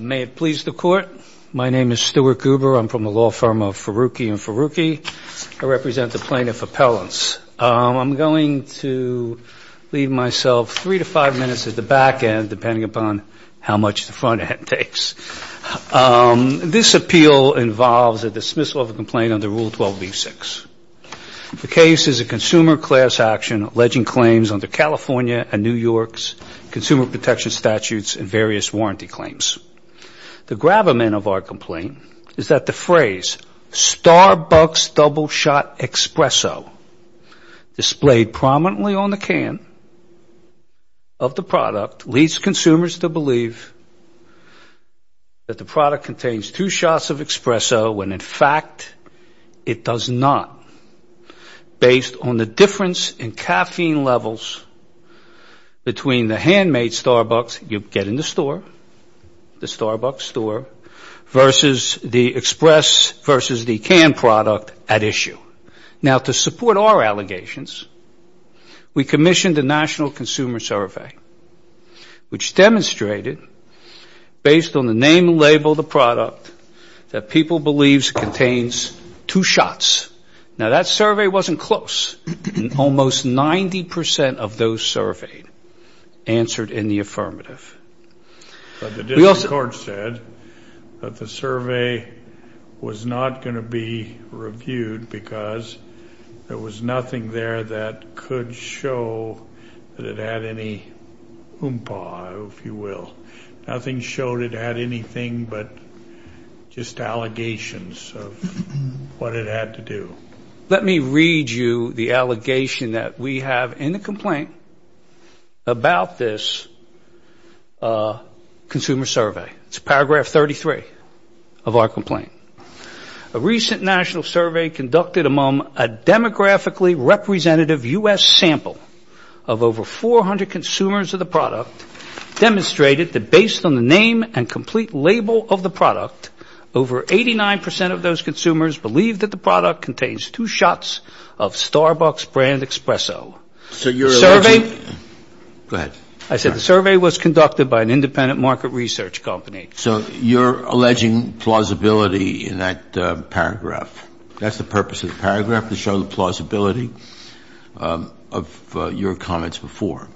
May it please the Court. My name is Stuart Goober. I'm from the law firm of Ferrucchi & Ferrucchi. I represent the plaintiff appellants. I'm going to leave myself three to five minutes at the back end, depending upon how much the front end takes. This appeal involves a dismissal of a complaint under Rule 12b-6. The case is a consumer class action alleging claims under California and New York's consumer protection statutes and various warranty claims. The gravamen of our complaint is that the phrase, Starbucks double shot espresso, displayed prominently on the can of the product, leads consumers to believe that the product contains two shots of espresso when, in fact, it does not. Based on the difference in caffeine levels between the handmade Starbucks you get in the store, the Starbucks store, versus the express versus the canned product at issue. Now, to support our allegations, we commissioned a national consumer survey, which demonstrated, based on the name and label of the product, that people believe it contains two shots. Now, that survey wasn't close. Almost 90% of those surveyed answered in the affirmative. But the district court said that the survey was not going to be reviewed because there was nothing there that could show that it had any oompa, if you will. Nothing showed it had anything but just allegations of what it had to do. Let me read you the allegation that we have in the complaint about this consumer survey. It's paragraph 33 of our complaint. A recent national survey conducted among a demographically representative U.S. sample of over 400 consumers of the product demonstrated that based on the name and complete label of the product, over 89% of those consumers believed that the product contains two shots of Starbucks brand espresso. Go ahead. I said the survey was conducted by an independent market research company. So you're alleging plausibility in that paragraph. That's the purpose of the paragraph, to show the plausibility of your comments before.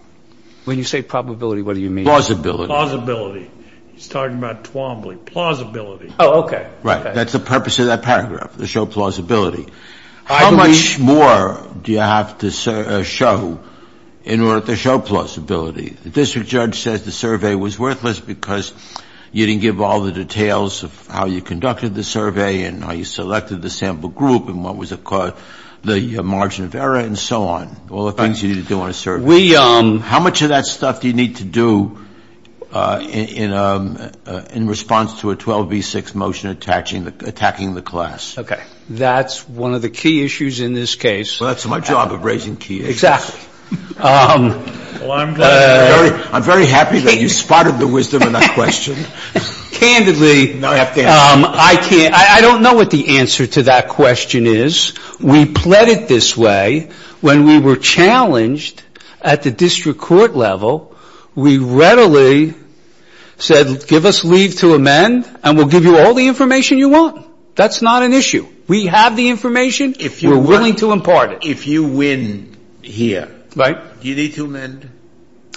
When you say probability, what do you mean? Plausibility. He's talking about Twombly. Plausibility. Oh, okay. Right. That's the purpose of that paragraph, to show plausibility. How much more do you have to show in order to show plausibility? The district judge says the survey was worthless because you didn't give all the details of how you conducted the survey and how you selected the sample group and what was the margin of error and so on, all the things you need to do on a survey. How much of that stuff do you need to do in response to a 12B6 motion attacking the class? Okay. That's one of the key issues in this case. Well, that's my job of raising key issues. Exactly. I'm very happy that you spotted the wisdom in that question. Candidly, I don't know what the answer to that question is. We pled it this way. When we were challenged at the district court level, we readily said give us leave to amend and we'll give you all the information you want. That's not an issue. We have the information. We're willing to impart it. If you win here, do you need to amend?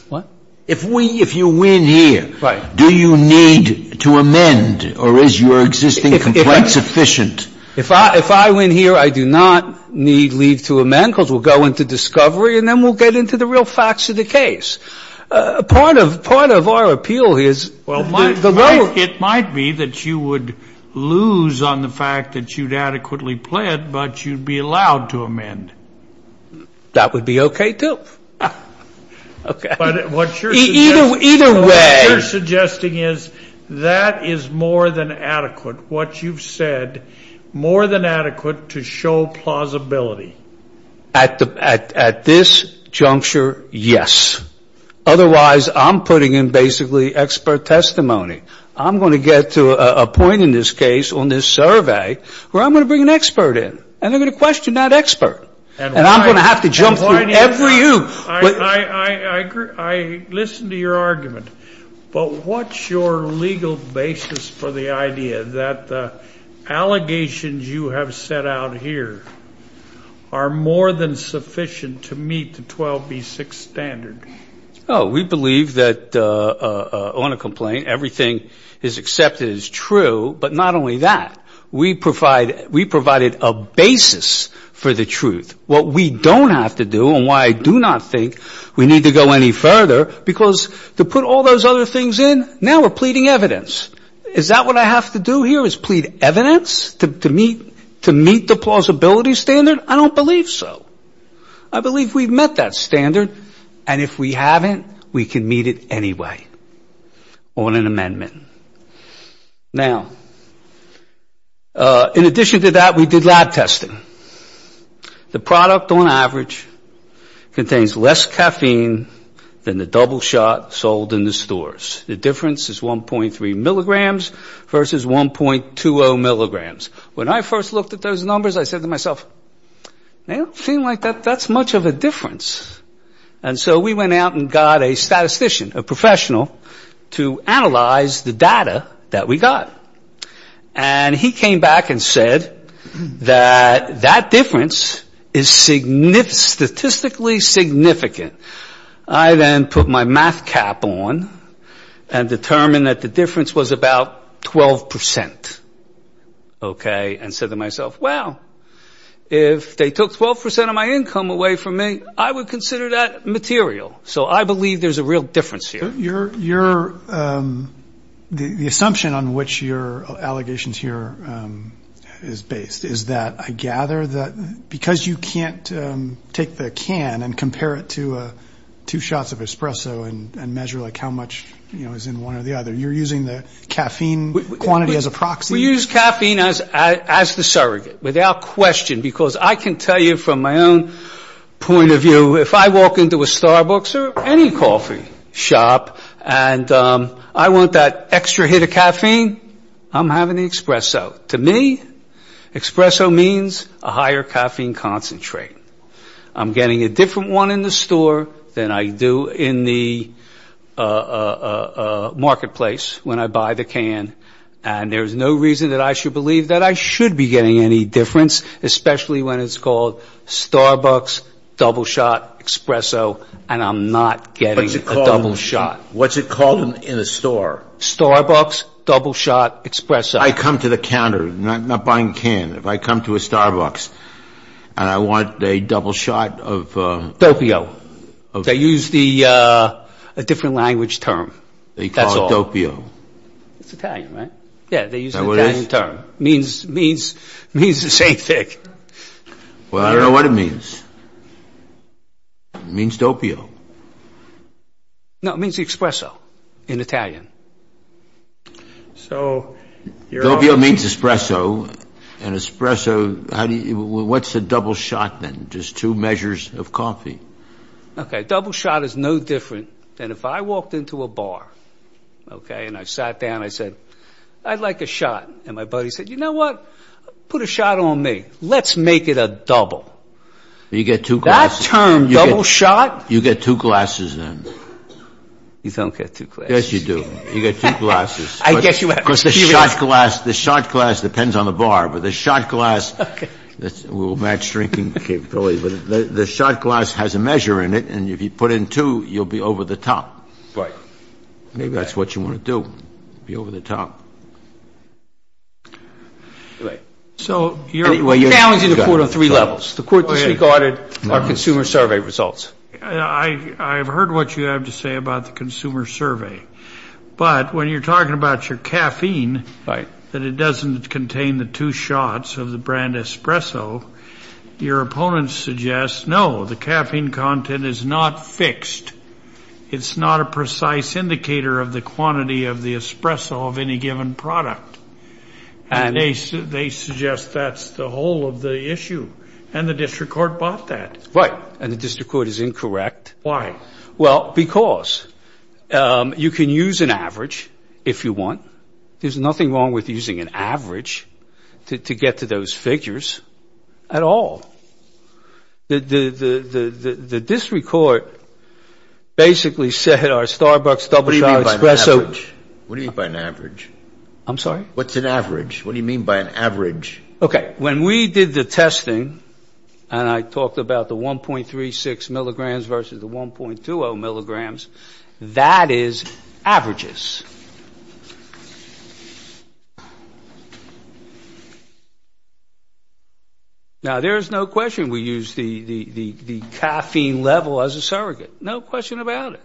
What? If you win here, do you need to amend or is your existing complaint sufficient? If I win here, I do not need leave to amend because we'll go into discovery and then we'll get into the real facts of the case. Part of our appeal is the lower. It might be that you would lose on the fact that you'd adequately pled, but you'd be allowed to amend. That would be okay, too. Okay. But what you're suggesting is that is more than adequate. What you've said, more than adequate to show plausibility. At this juncture, yes. Otherwise, I'm putting in basically expert testimony. I'm going to get to a point in this case on this survey where I'm going to bring an expert in and they're going to question that expert. And I'm going to have to jump through every oop. I listen to your argument, but what's your legal basis for the idea that the allegations you have set out here are more than sufficient to meet the 12B6 standard? Oh, we believe that on a complaint everything is accepted as true, but not only that. We provided a basis for the truth. What we don't have to do and why I do not think we need to go any further, because to put all those other things in, now we're pleading evidence. Is that what I have to do here is plead evidence to meet the plausibility standard? I don't believe so. I believe we've met that standard, and if we haven't, we can meet it anyway on an amendment. Now, in addition to that, we did lab testing. The product on average contains less caffeine than the double shot sold in the stores. The difference is 1.3 milligrams versus 1.20 milligrams. When I first looked at those numbers, I said to myself, they don't seem like that's much of a difference. And so we went out and got a statistician, a professional, to analyze the data that we got. And he came back and said that that difference is statistically significant. I then put my math cap on and determined that the difference was about 12%, okay, and said to myself, well, if they took 12% of my income away from me, I would consider that material. So I believe there's a real difference here. The assumption on which your allegations here is based is that, I gather, because you can't take the can and compare it to two shots of espresso and measure like how much is in one or the other, you're using the caffeine quantity as a proxy. We use caffeine as the surrogate, without question, because I can tell you from my own point of view, if I walk into a Starbucks or any coffee shop and I want that extra hit of caffeine, I'm having the espresso. To me, espresso means a higher caffeine concentrate. I'm getting a different one in the store than I do in the marketplace when I buy the can. And there's no reason that I should believe that I should be getting any difference, especially when it's called Starbucks, double shot, espresso, and I'm not getting a double shot. What's it called in a store? Starbucks, double shot, espresso. I come to the counter, not buying a can. If I come to a Starbucks and I want a double shot of ‑‑ Dopio. They use a different language term. They call it Dopio. It's Italian, right? Yeah, they use the Italian term. It means the same thing. Well, I don't know what it means. It means Dopio. No, it means espresso in Italian. Dopio means espresso, and espresso, what's a double shot then? Just two measures of coffee. Okay, double shot is no different than if I walked into a bar, okay, and I sat down and I said, I'd like a shot, and my buddy said, you know what? Put a shot on me. Let's make it a double. That term, double shot? You get two glasses then. You don't get two glasses. Yes, you do. You get two glasses. I guess you have to. Because the shot glass depends on the bar, but the shot glass, we'll match drinking capabilities, but the shot glass has a measure in it, and if you put in two, you'll be over the top. Right. Maybe that's what you want to do, be over the top. So you're balancing the court on three levels. The court disregarded our consumer survey results. I've heard what you have to say about the consumer survey, but when you're talking about your caffeine, that it doesn't contain the two shots of the brand espresso, your opponents suggest, no, the caffeine content is not fixed. It's not a precise indicator of the quantity of the espresso of any given product, and they suggest that's the whole of the issue, and the district court bought that. Right, and the district court is incorrect. Why? Well, because you can use an average if you want. There's nothing wrong with using an average to get to those figures at all. The district court basically said our Starbucks double shot espresso. What do you mean by an average? I'm sorry? What's an average? What do you mean by an average? Okay, when we did the testing, and I talked about the 1.36 milligrams versus the 1.20 milligrams, that is averages. Now, there is no question we use the caffeine level as a surrogate. No question about it.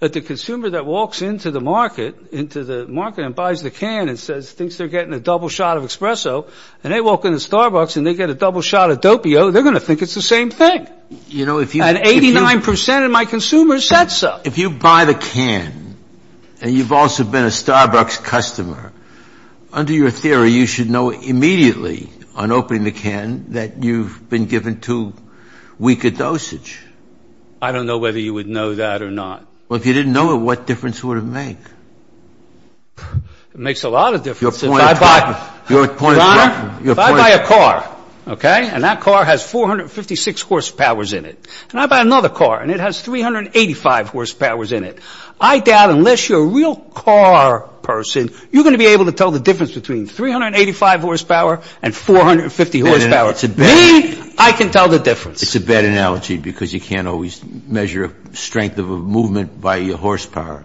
But the consumer that walks into the market and buys the can and says, thinks they're getting a double shot of espresso, and they walk into Starbucks and they get a double shot of Dopio, they're going to think it's the same thing. At 89 percent of my consumers said so. If you buy the can and you've also been a Starbucks customer, under your theory, you should know immediately on opening the can that you've been given too weak a dosage. I don't know whether you would know that or not. Well, if you didn't know it, what difference would it make? It makes a lot of difference. Your point is right. Your point is right. Your point is right. If I buy a car, okay, and that car has 456 horsepowers in it, and I buy another car and it has 385 horsepowers in it, I doubt unless you're a real car person you're going to be able to tell the difference between 385 horsepower and 450 horsepower. It's a bad analogy. Me, I can tell the difference. It's a bad analogy because you can't always measure strength of a movement by your horsepower.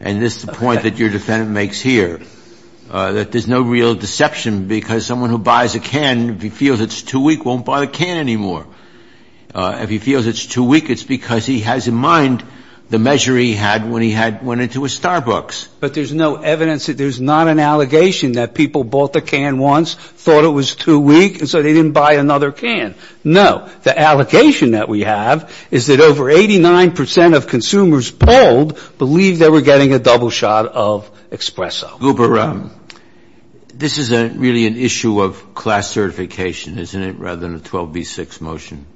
And this is the point that your defendant makes here, that there's no real deception, because someone who buys a can, if he feels it's too weak, won't buy the can anymore. If he feels it's too weak, it's because he has in mind the measure he had when he went into a Starbucks. But there's no evidence that there's not an allegation that people bought the can once, thought it was too weak, and so they didn't buy another can. No. The allocation that we have is that over 89 percent of consumers polled believe they were getting a double shot of Espresso. Goober, this is really an issue of class certification, isn't it, rather than a 12B6 motion?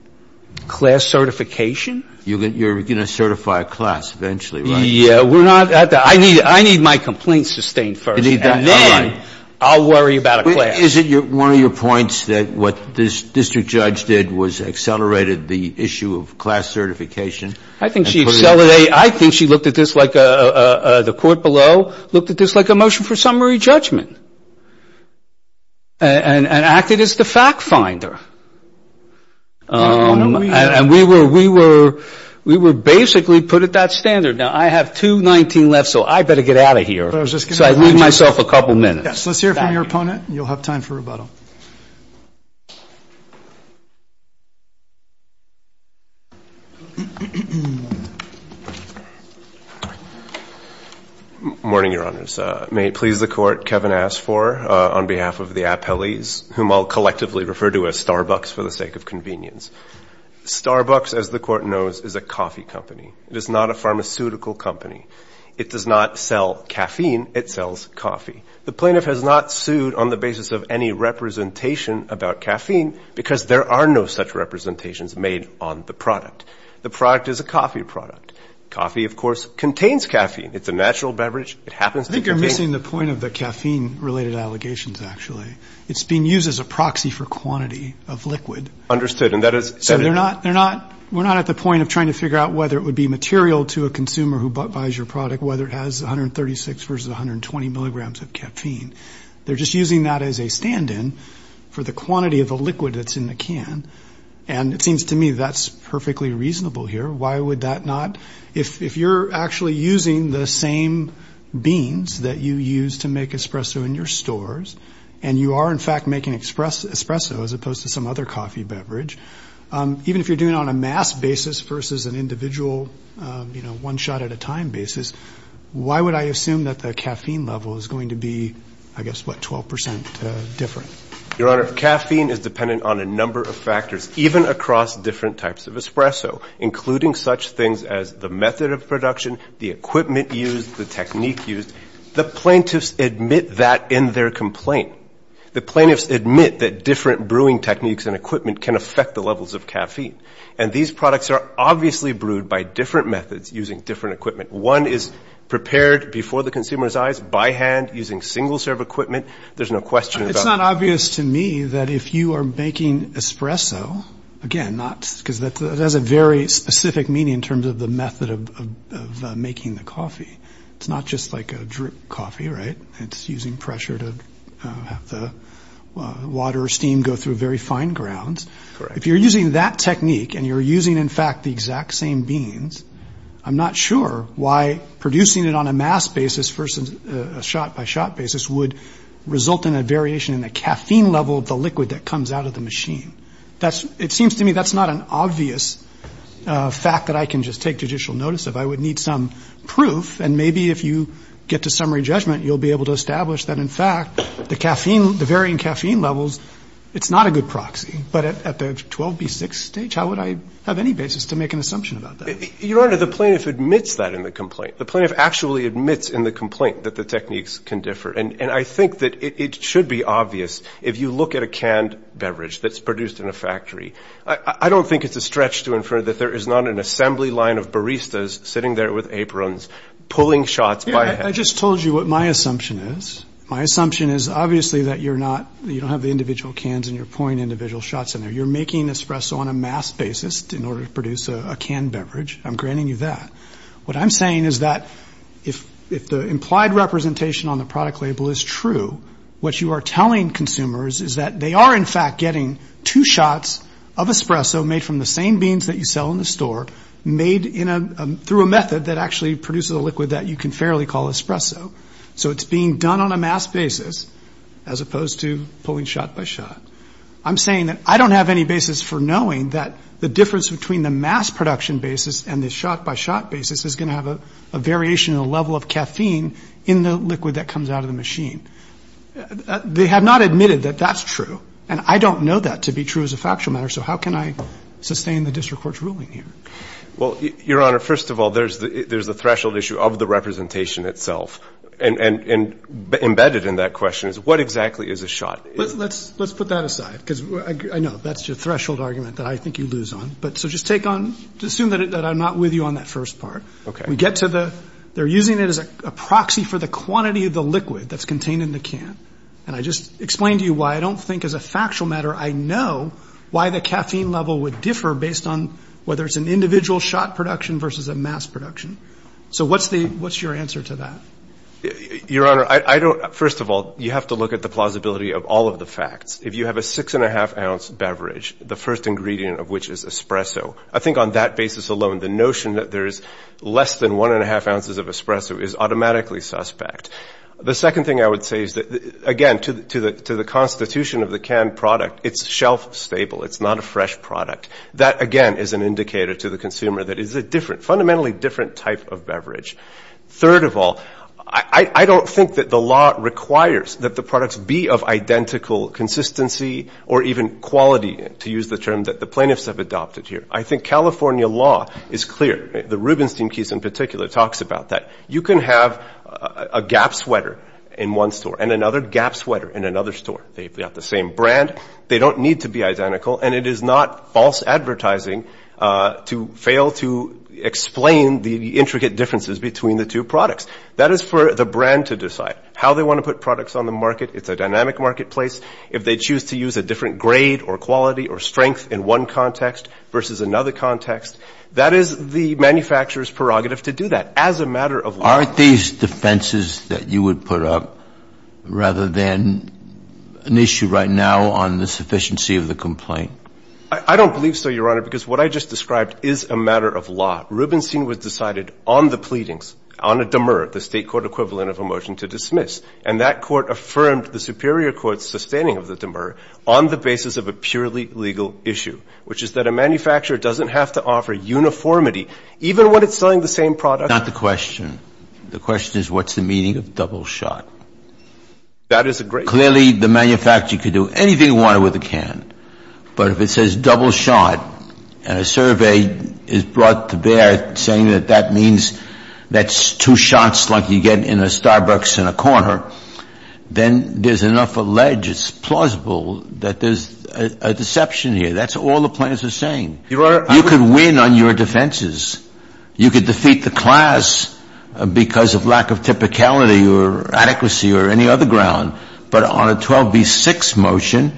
Class certification? You're going to certify a class eventually, right? Yeah, we're not at that. I need my complaints sustained first, and then I'll worry about a class. Is it one of your points that what this district judge did was accelerated the issue of class certification? I think she looked at this like the court below looked at this like a motion for summary judgment and acted as the fact finder. And we were basically put at that standard. Now, I have 219 left, so I better get out of here. So I leave myself a couple minutes. Let's hear from your opponent. You'll have time for rebuttal. Morning, Your Honors. May it please the Court, Kevin asked for on behalf of the appellees, whom I'll collectively refer to as Starbucks for the sake of convenience. Starbucks, as the Court knows, is a coffee company. It is not a pharmaceutical company. It does not sell caffeine. It sells coffee. The plaintiff has not sued on the basis of any representation about caffeine because there are no such representations made on the product. The product is a coffee product. Coffee, of course, contains caffeine. It's a natural beverage. It happens to contain it. I think you're missing the point of the caffeine-related allegations, actually. It's being used as a proxy for quantity of liquid. Understood, and that is evident. So we're not at the point of trying to figure out whether it would be material to a consumer who buys your product, whether it has 136 versus 120 milligrams of caffeine. They're just using that as a stand-in for the quantity of the liquid that's in the can, and it seems to me that's perfectly reasonable here. Why would that not? If you're actually using the same beans that you use to make espresso in your stores, and you are, in fact, making espresso as opposed to some other coffee beverage, even if you're doing it on a mass basis versus an individual, you know, one shot at a time basis, why would I assume that the caffeine level is going to be, I guess, what, 12 percent different? Your Honor, caffeine is dependent on a number of factors, even across different types of espresso, including such things as the method of production, the equipment used, the technique used. The plaintiffs admit that in their complaint. The plaintiffs admit that different brewing techniques and equipment can affect the levels of caffeine, and these products are obviously brewed by different methods using different equipment. One is prepared before the consumer's eyes by hand using single-serve equipment. There's no question about that. It's not obvious to me that if you are making espresso, again, not because that has a very specific meaning in terms of the method of making the coffee. It's not just like a drip coffee, right? It's using pressure to have the water or steam go through very fine grounds. Correct. If you're using that technique and you're using, in fact, the exact same beans, I'm not sure why producing it on a mass basis versus a shot-by-shot basis would result in a variation in the caffeine level of the liquid that comes out of the machine. It seems to me that's not an obvious fact that I can just take judicial notice of. I would need some proof, and maybe if you get to summary judgment, you'll be able to establish that, in fact, the caffeine, the varying caffeine levels, it's not a good proxy. But at the 12B6 stage, how would I have any basis to make an assumption about that? Your Honor, the plaintiff admits that in the complaint. The plaintiff actually admits in the complaint that the techniques can differ, and I think that it should be obvious if you look at a canned beverage that's produced in a factory. I don't think it's a stretch to infer that there is not an assembly line of baristas sitting there with aprons, pulling shots by hand. I just told you what my assumption is. My assumption is obviously that you're not, you don't have the individual cans and you're pouring individual shots in there. You're making espresso on a mass basis in order to produce a canned beverage. I'm granting you that. What I'm saying is that if the implied representation on the product label is true, what you are telling consumers is that they are, in fact, getting two shots of espresso made from the same beans that you sell in the store, made through a method that actually produces a liquid that you can fairly call espresso. So it's being done on a mass basis as opposed to pulling shot by shot. I'm saying that I don't have any basis for knowing that the difference between the mass production basis and the shot by shot basis is going to have a variation in the level of caffeine in the liquid that comes out of the machine. They have not admitted that that's true. And I don't know that to be true as a factual matter. So how can I sustain the district court's ruling here? Well, Your Honor, first of all, there's the threshold issue of the representation itself. And embedded in that question is what exactly is a shot? Let's put that aside because I know that's your threshold argument that I think you lose on. So just take on, assume that I'm not with you on that first part. Okay. They're using it as a proxy for the quantity of the liquid that's contained in the can. And I just explained to you why I don't think as a factual matter I know why the caffeine level would differ based on whether it's an individual shot production versus a mass production. So what's your answer to that? Your Honor, first of all, you have to look at the plausibility of all of the facts. If you have a six-and-a-half-ounce beverage, the first ingredient of which is espresso, I think on that basis alone the notion that there is less than one-and-a-half ounces of espresso is automatically suspect. The second thing I would say is that, again, to the constitution of the canned product, it's shelf-stable. It's not a fresh product. That, again, is an indicator to the consumer that it's a fundamentally different type of beverage. Third of all, I don't think that the law requires that the products be of identical consistency or even quality, to use the term that the plaintiffs have adopted here. I think California law is clear. The Rubenstein case in particular talks about that. You can have a Gap sweater in one store and another Gap sweater in another store. They've got the same brand. They don't need to be identical, and it is not false advertising to fail to explain the intricate differences between the two products. That is for the brand to decide. How they want to put products on the market, it's a dynamic marketplace. If they choose to use a different grade or quality or strength in one context versus another context, that is the manufacturer's prerogative to do that as a matter of law. Are these defenses that you would put up rather than an issue right now on the sufficiency of the complaint? I don't believe so, Your Honor, because what I just described is a matter of law. Rubenstein was decided on the pleadings, on a demur, the State court equivalent of a motion to dismiss. And that court affirmed the superior court's sustaining of the demur on the basis of a purely legal issue, which is that a manufacturer doesn't have to offer uniformity, even when it's selling the same product. It's not the question. The question is what's the meaning of double shot? That is a great question. Clearly, the manufacturer could do anything he wanted with a can. But if it says double shot and a survey is brought to bear saying that that means that's two shots like you get in a Starbucks in a corner, then there's enough allege it's plausible that there's a deception here. That's all the plaintiffs are saying. You could win on your defenses. You could defeat the class because of lack of typicality or adequacy or any other ground. But on a 12b-6 motion,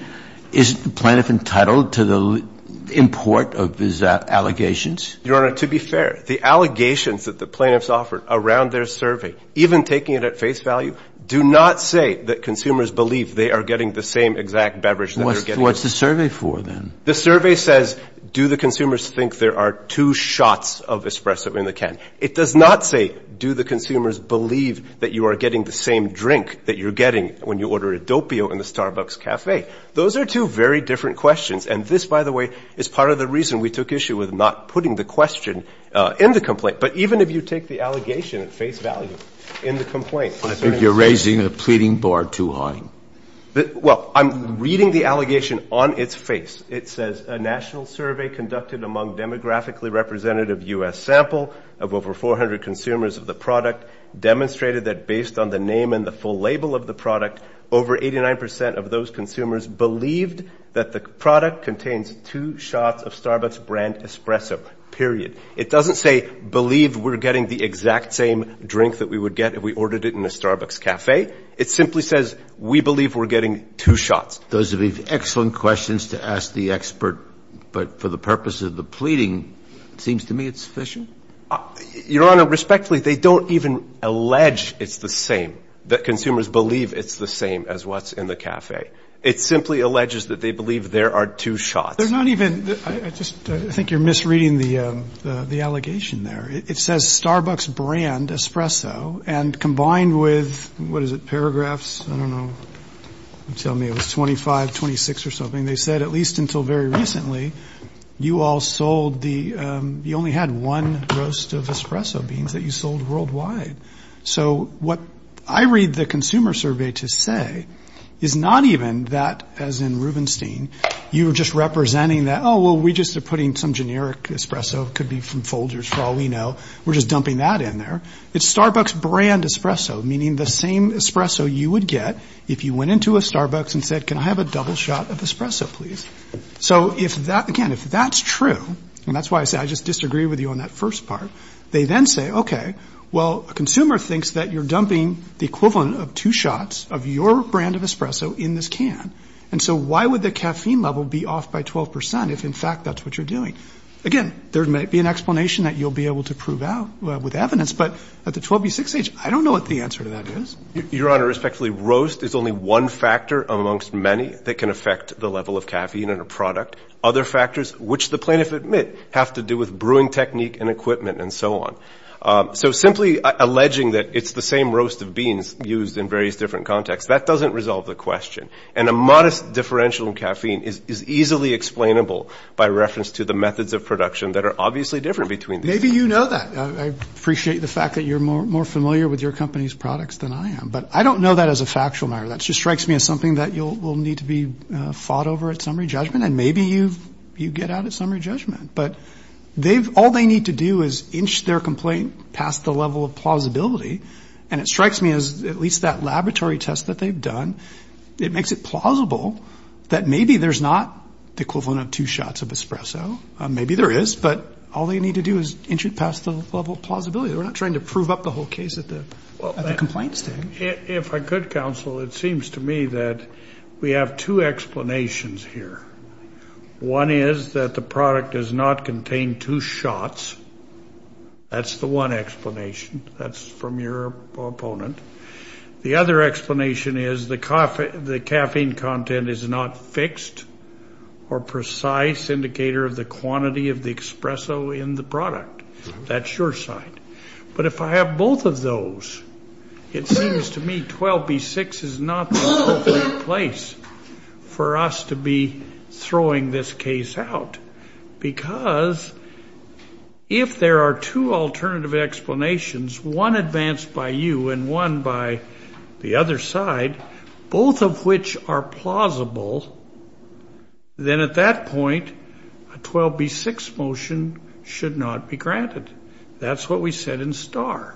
isn't the plaintiff entitled to the import of his allegations? Your Honor, to be fair, the allegations that the plaintiffs offered around their survey, even taking it at face value, do not say that consumers believe they are getting the same exact beverage that they're getting. What's the survey for, then? The survey says do the consumers think there are two shots of espresso in the can? It does not say do the consumers believe that you are getting the same drink that you're getting when you order Adopio in the Starbucks cafe. Those are two very different questions. And this, by the way, is part of the reason we took issue with not putting the question in the complaint. But even if you take the allegation at face value in the complaint. I think you're raising a pleading bar too high. Well, I'm reading the allegation on its face. It says a national survey conducted among demographically representative U.S. sample of over 400 consumers of the product demonstrated that based on the name and the full label of the product, over 89% of those consumers believed that the product contains two shots of Starbucks brand espresso, period. It doesn't say believe we're getting the exact same drink that we would get if we ordered it in a Starbucks cafe. It simply says we believe we're getting two shots. Those would be excellent questions to ask the expert. But for the purpose of the pleading, it seems to me it's sufficient. Your Honor, respectfully, they don't even allege it's the same, that consumers believe it's the same as what's in the cafe. It simply alleges that they believe there are two shots. They're not even – I think you're misreading the allegation there. It says Starbucks brand espresso, and combined with – what is it, paragraphs? I don't know. Tell me it was 25, 26 or something. They said at least until very recently you all sold the – you only had one roast of espresso beans that you sold worldwide. So what I read the Consumer Survey to say is not even that, as in Rubenstein, you were just representing that, oh, well, we're just putting some generic espresso. It could be from Folgers, for all we know. We're just dumping that in there. It's Starbucks brand espresso, meaning the same espresso you would get if you went into a Starbucks and said, can I have a double shot of espresso, please? So if that – again, if that's true, and that's why I said I just disagree with you on that first part, they then say, okay, well, a consumer thinks that you're dumping the equivalent of two shots of your brand of espresso in this can. And so why would the caffeine level be off by 12 percent if, in fact, that's what you're doing? Again, there may be an explanation that you'll be able to prove out with evidence, but at the 12B6 age, I don't know what the answer to that is. Your Honor, respectfully, roast is only one factor amongst many that can affect the level of caffeine in a product. Other factors, which the plaintiff admit, have to do with brewing technique and equipment and so on. So simply alleging that it's the same roast of beans used in various different contexts, that doesn't resolve the question. And a modest differential in caffeine is easily explainable by reference to the methods of production that are obviously different between these. Maybe you know that. I appreciate the fact that you're more familiar with your company's products than I am. But I don't know that as a factual matter. That just strikes me as something that will need to be fought over at summary judgment. And maybe you get out at summary judgment. But all they need to do is inch their complaint past the level of plausibility. And it strikes me as at least that laboratory test that they've done, it makes it plausible that maybe there's not the equivalent of two shots of espresso. Maybe there is. But all they need to do is inch it past the level of plausibility. They're not trying to prove up the whole case at the complaint stage. If I could, counsel, it seems to me that we have two explanations here. One is that the product does not contain two shots. That's the one explanation. That's from your opponent. The other explanation is the caffeine content is not fixed or precise indicator of the quantity of the espresso in the product. That's your side. But if I have both of those, it seems to me 12B6 is not the appropriate place for us to be throwing this case out. Because if there are two alternative explanations, one advanced by you and one by the other side, both of which are plausible, then at that point, a 12B6 motion should not be granted. That's what we said in Starr.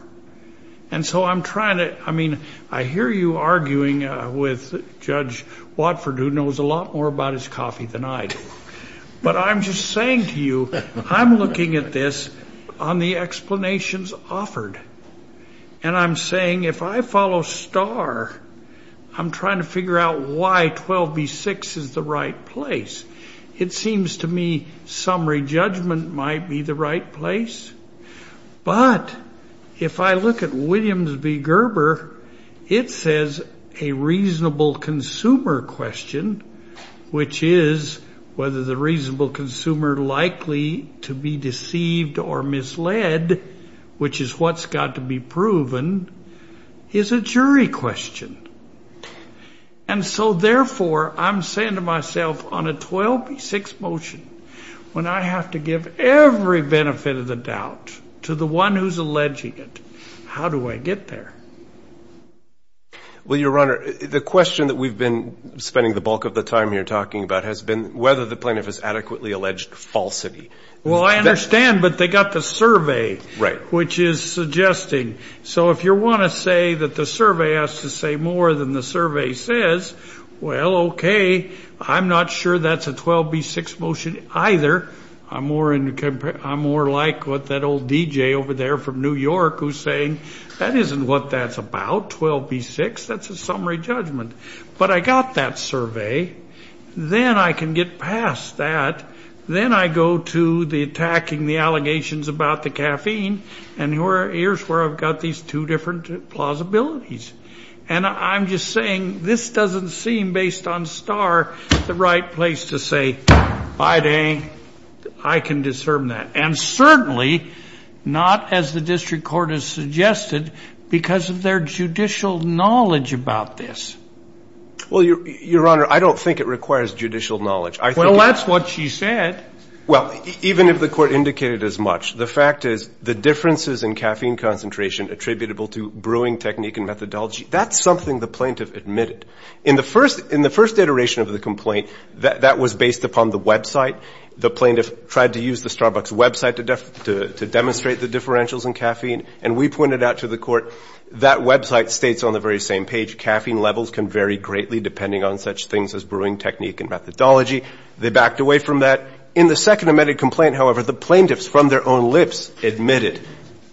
And so I'm trying to, I mean, I hear you arguing with Judge Watford, who knows a lot more about his coffee than I do. But I'm just saying to you, I'm looking at this on the explanations offered. And I'm saying if I follow Starr, I'm trying to figure out why 12B6 is the right place. It seems to me summary judgment might be the right place. But if I look at Williams v. Gerber, it says a reasonable consumer question, which is whether the reasonable consumer likely to be deceived or misled, which is what's got to be proven, is a jury question. And so, therefore, I'm saying to myself on a 12B6 motion, when I have to give every benefit of the doubt to the one who's alleging it, how do I get there? Well, Your Honor, the question that we've been spending the bulk of the time here talking about has been whether the plaintiff has adequately alleged falsity. Well, I understand, but they got the survey. Right. Which is suggesting. So if you want to say that the survey has to say more than the survey says, well, okay. I'm not sure that's a 12B6 motion either. I'm more like what that old DJ over there from New York who's saying that isn't what that's about, 12B6. That's a summary judgment. But I got that survey. Then I can get past that. Then I go to the attacking the allegations about the caffeine, and here's where I've got these two different plausibilities. And I'm just saying this doesn't seem, based on Starr, the right place to say, by dang, I can discern that. And certainly not, as the district court has suggested, because of their judicial knowledge about this. Well, Your Honor, I don't think it requires judicial knowledge. Well, that's what she said. Well, even if the Court indicated as much, the fact is the differences in caffeine concentration attributable to brewing technique and methodology, that's something the plaintiff admitted. In the first iteration of the complaint, that was based upon the website. The plaintiff tried to use the Starbucks website to demonstrate the differentials in caffeine, and we pointed out to the Court that website states on the very same page, caffeine levels can vary greatly depending on such things as brewing technique and methodology. They backed away from that. In the second amended complaint, however, the plaintiffs, from their own lips, admitted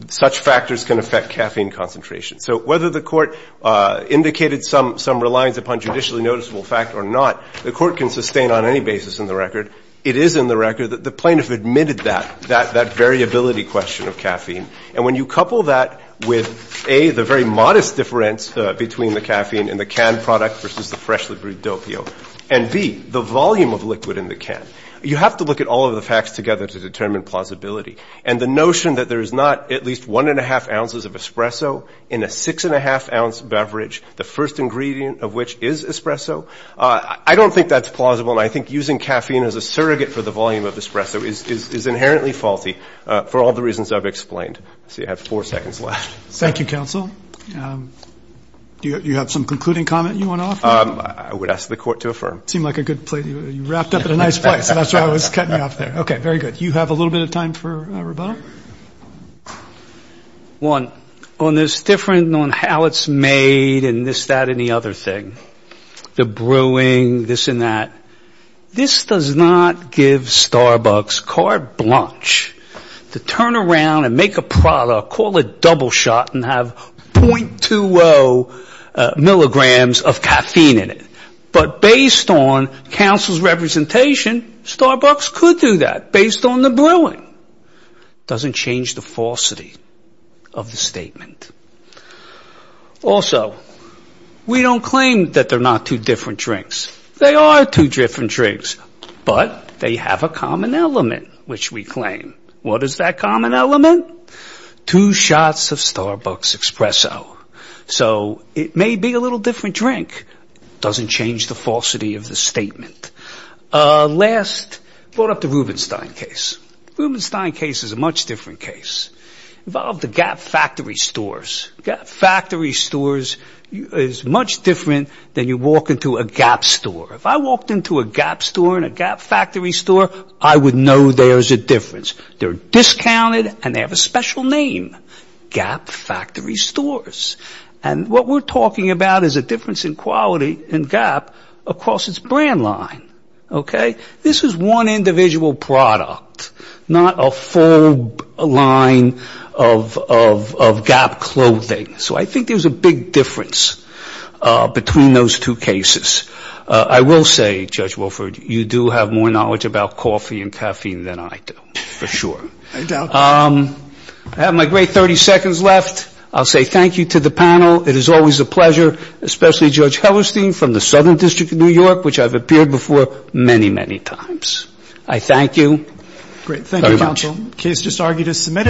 such factors can affect caffeine concentration. So whether the Court indicated some reliance upon judicially noticeable fact or not, the Court can sustain on any basis in the record. It is in the record that the plaintiff admitted that, that variability question of caffeine. And when you couple that with, A, the very modest difference between the caffeine in the canned product versus the freshly brewed dopio, and, B, the volume of liquid in the can, you have to look at all of the facts together to determine plausibility. And the notion that there is not at least 1 1⁄2 ounces of espresso in a 6 1⁄2 ounce beverage, the first ingredient of which is espresso, I don't think that's plausible, and I think using caffeine as a surrogate for the volume of espresso is inherently faulty for all the reasons I've explained. I see I have four seconds left. Thank you, Counsel. Do you have some concluding comment you want to offer? I would ask the Court to affirm. It seemed like a good place. You wrapped up in a nice place, and that's why I was cutting you off there. Okay, very good. Do you have a little bit of time for rebuttal? One, on this difference on how it's made and this, that, and the other thing, the brewing, this and that, this does not give Starbucks carte blanche to turn around and make a product, call it double shot and have 0.20 milligrams of caffeine in it. But based on Counsel's representation, Starbucks could do that based on the brewing. It doesn't change the falsity of the statement. Also, we don't claim that they're not two different drinks. They are two different drinks, but they have a common element, which we claim. What is that common element? Two shots of Starbucks espresso. So it may be a little different drink. It doesn't change the falsity of the statement. Last, brought up the Rubenstein case. The Rubenstein case is a much different case. It involved the Gap Factory stores. Gap Factory stores is much different than you walk into a Gap store. If I walked into a Gap store and a Gap Factory store, I would know there's a difference. They're discounted and they have a special name, Gap Factory stores. And what we're talking about is a difference in quality in Gap across its brand line, okay? This is one individual product, not a full line of Gap clothing. So I think there's a big difference between those two cases. I will say, Judge Wilford, you do have more knowledge about coffee and caffeine than I do, for sure. I doubt that. I have my great 30 seconds left. I'll say thank you to the panel. It is always a pleasure, especially Judge Hellerstein from the Southern District of New York, which I've appeared before many, many times. I thank you very much. Great. Thank you, counsel. Case just argued as submitted.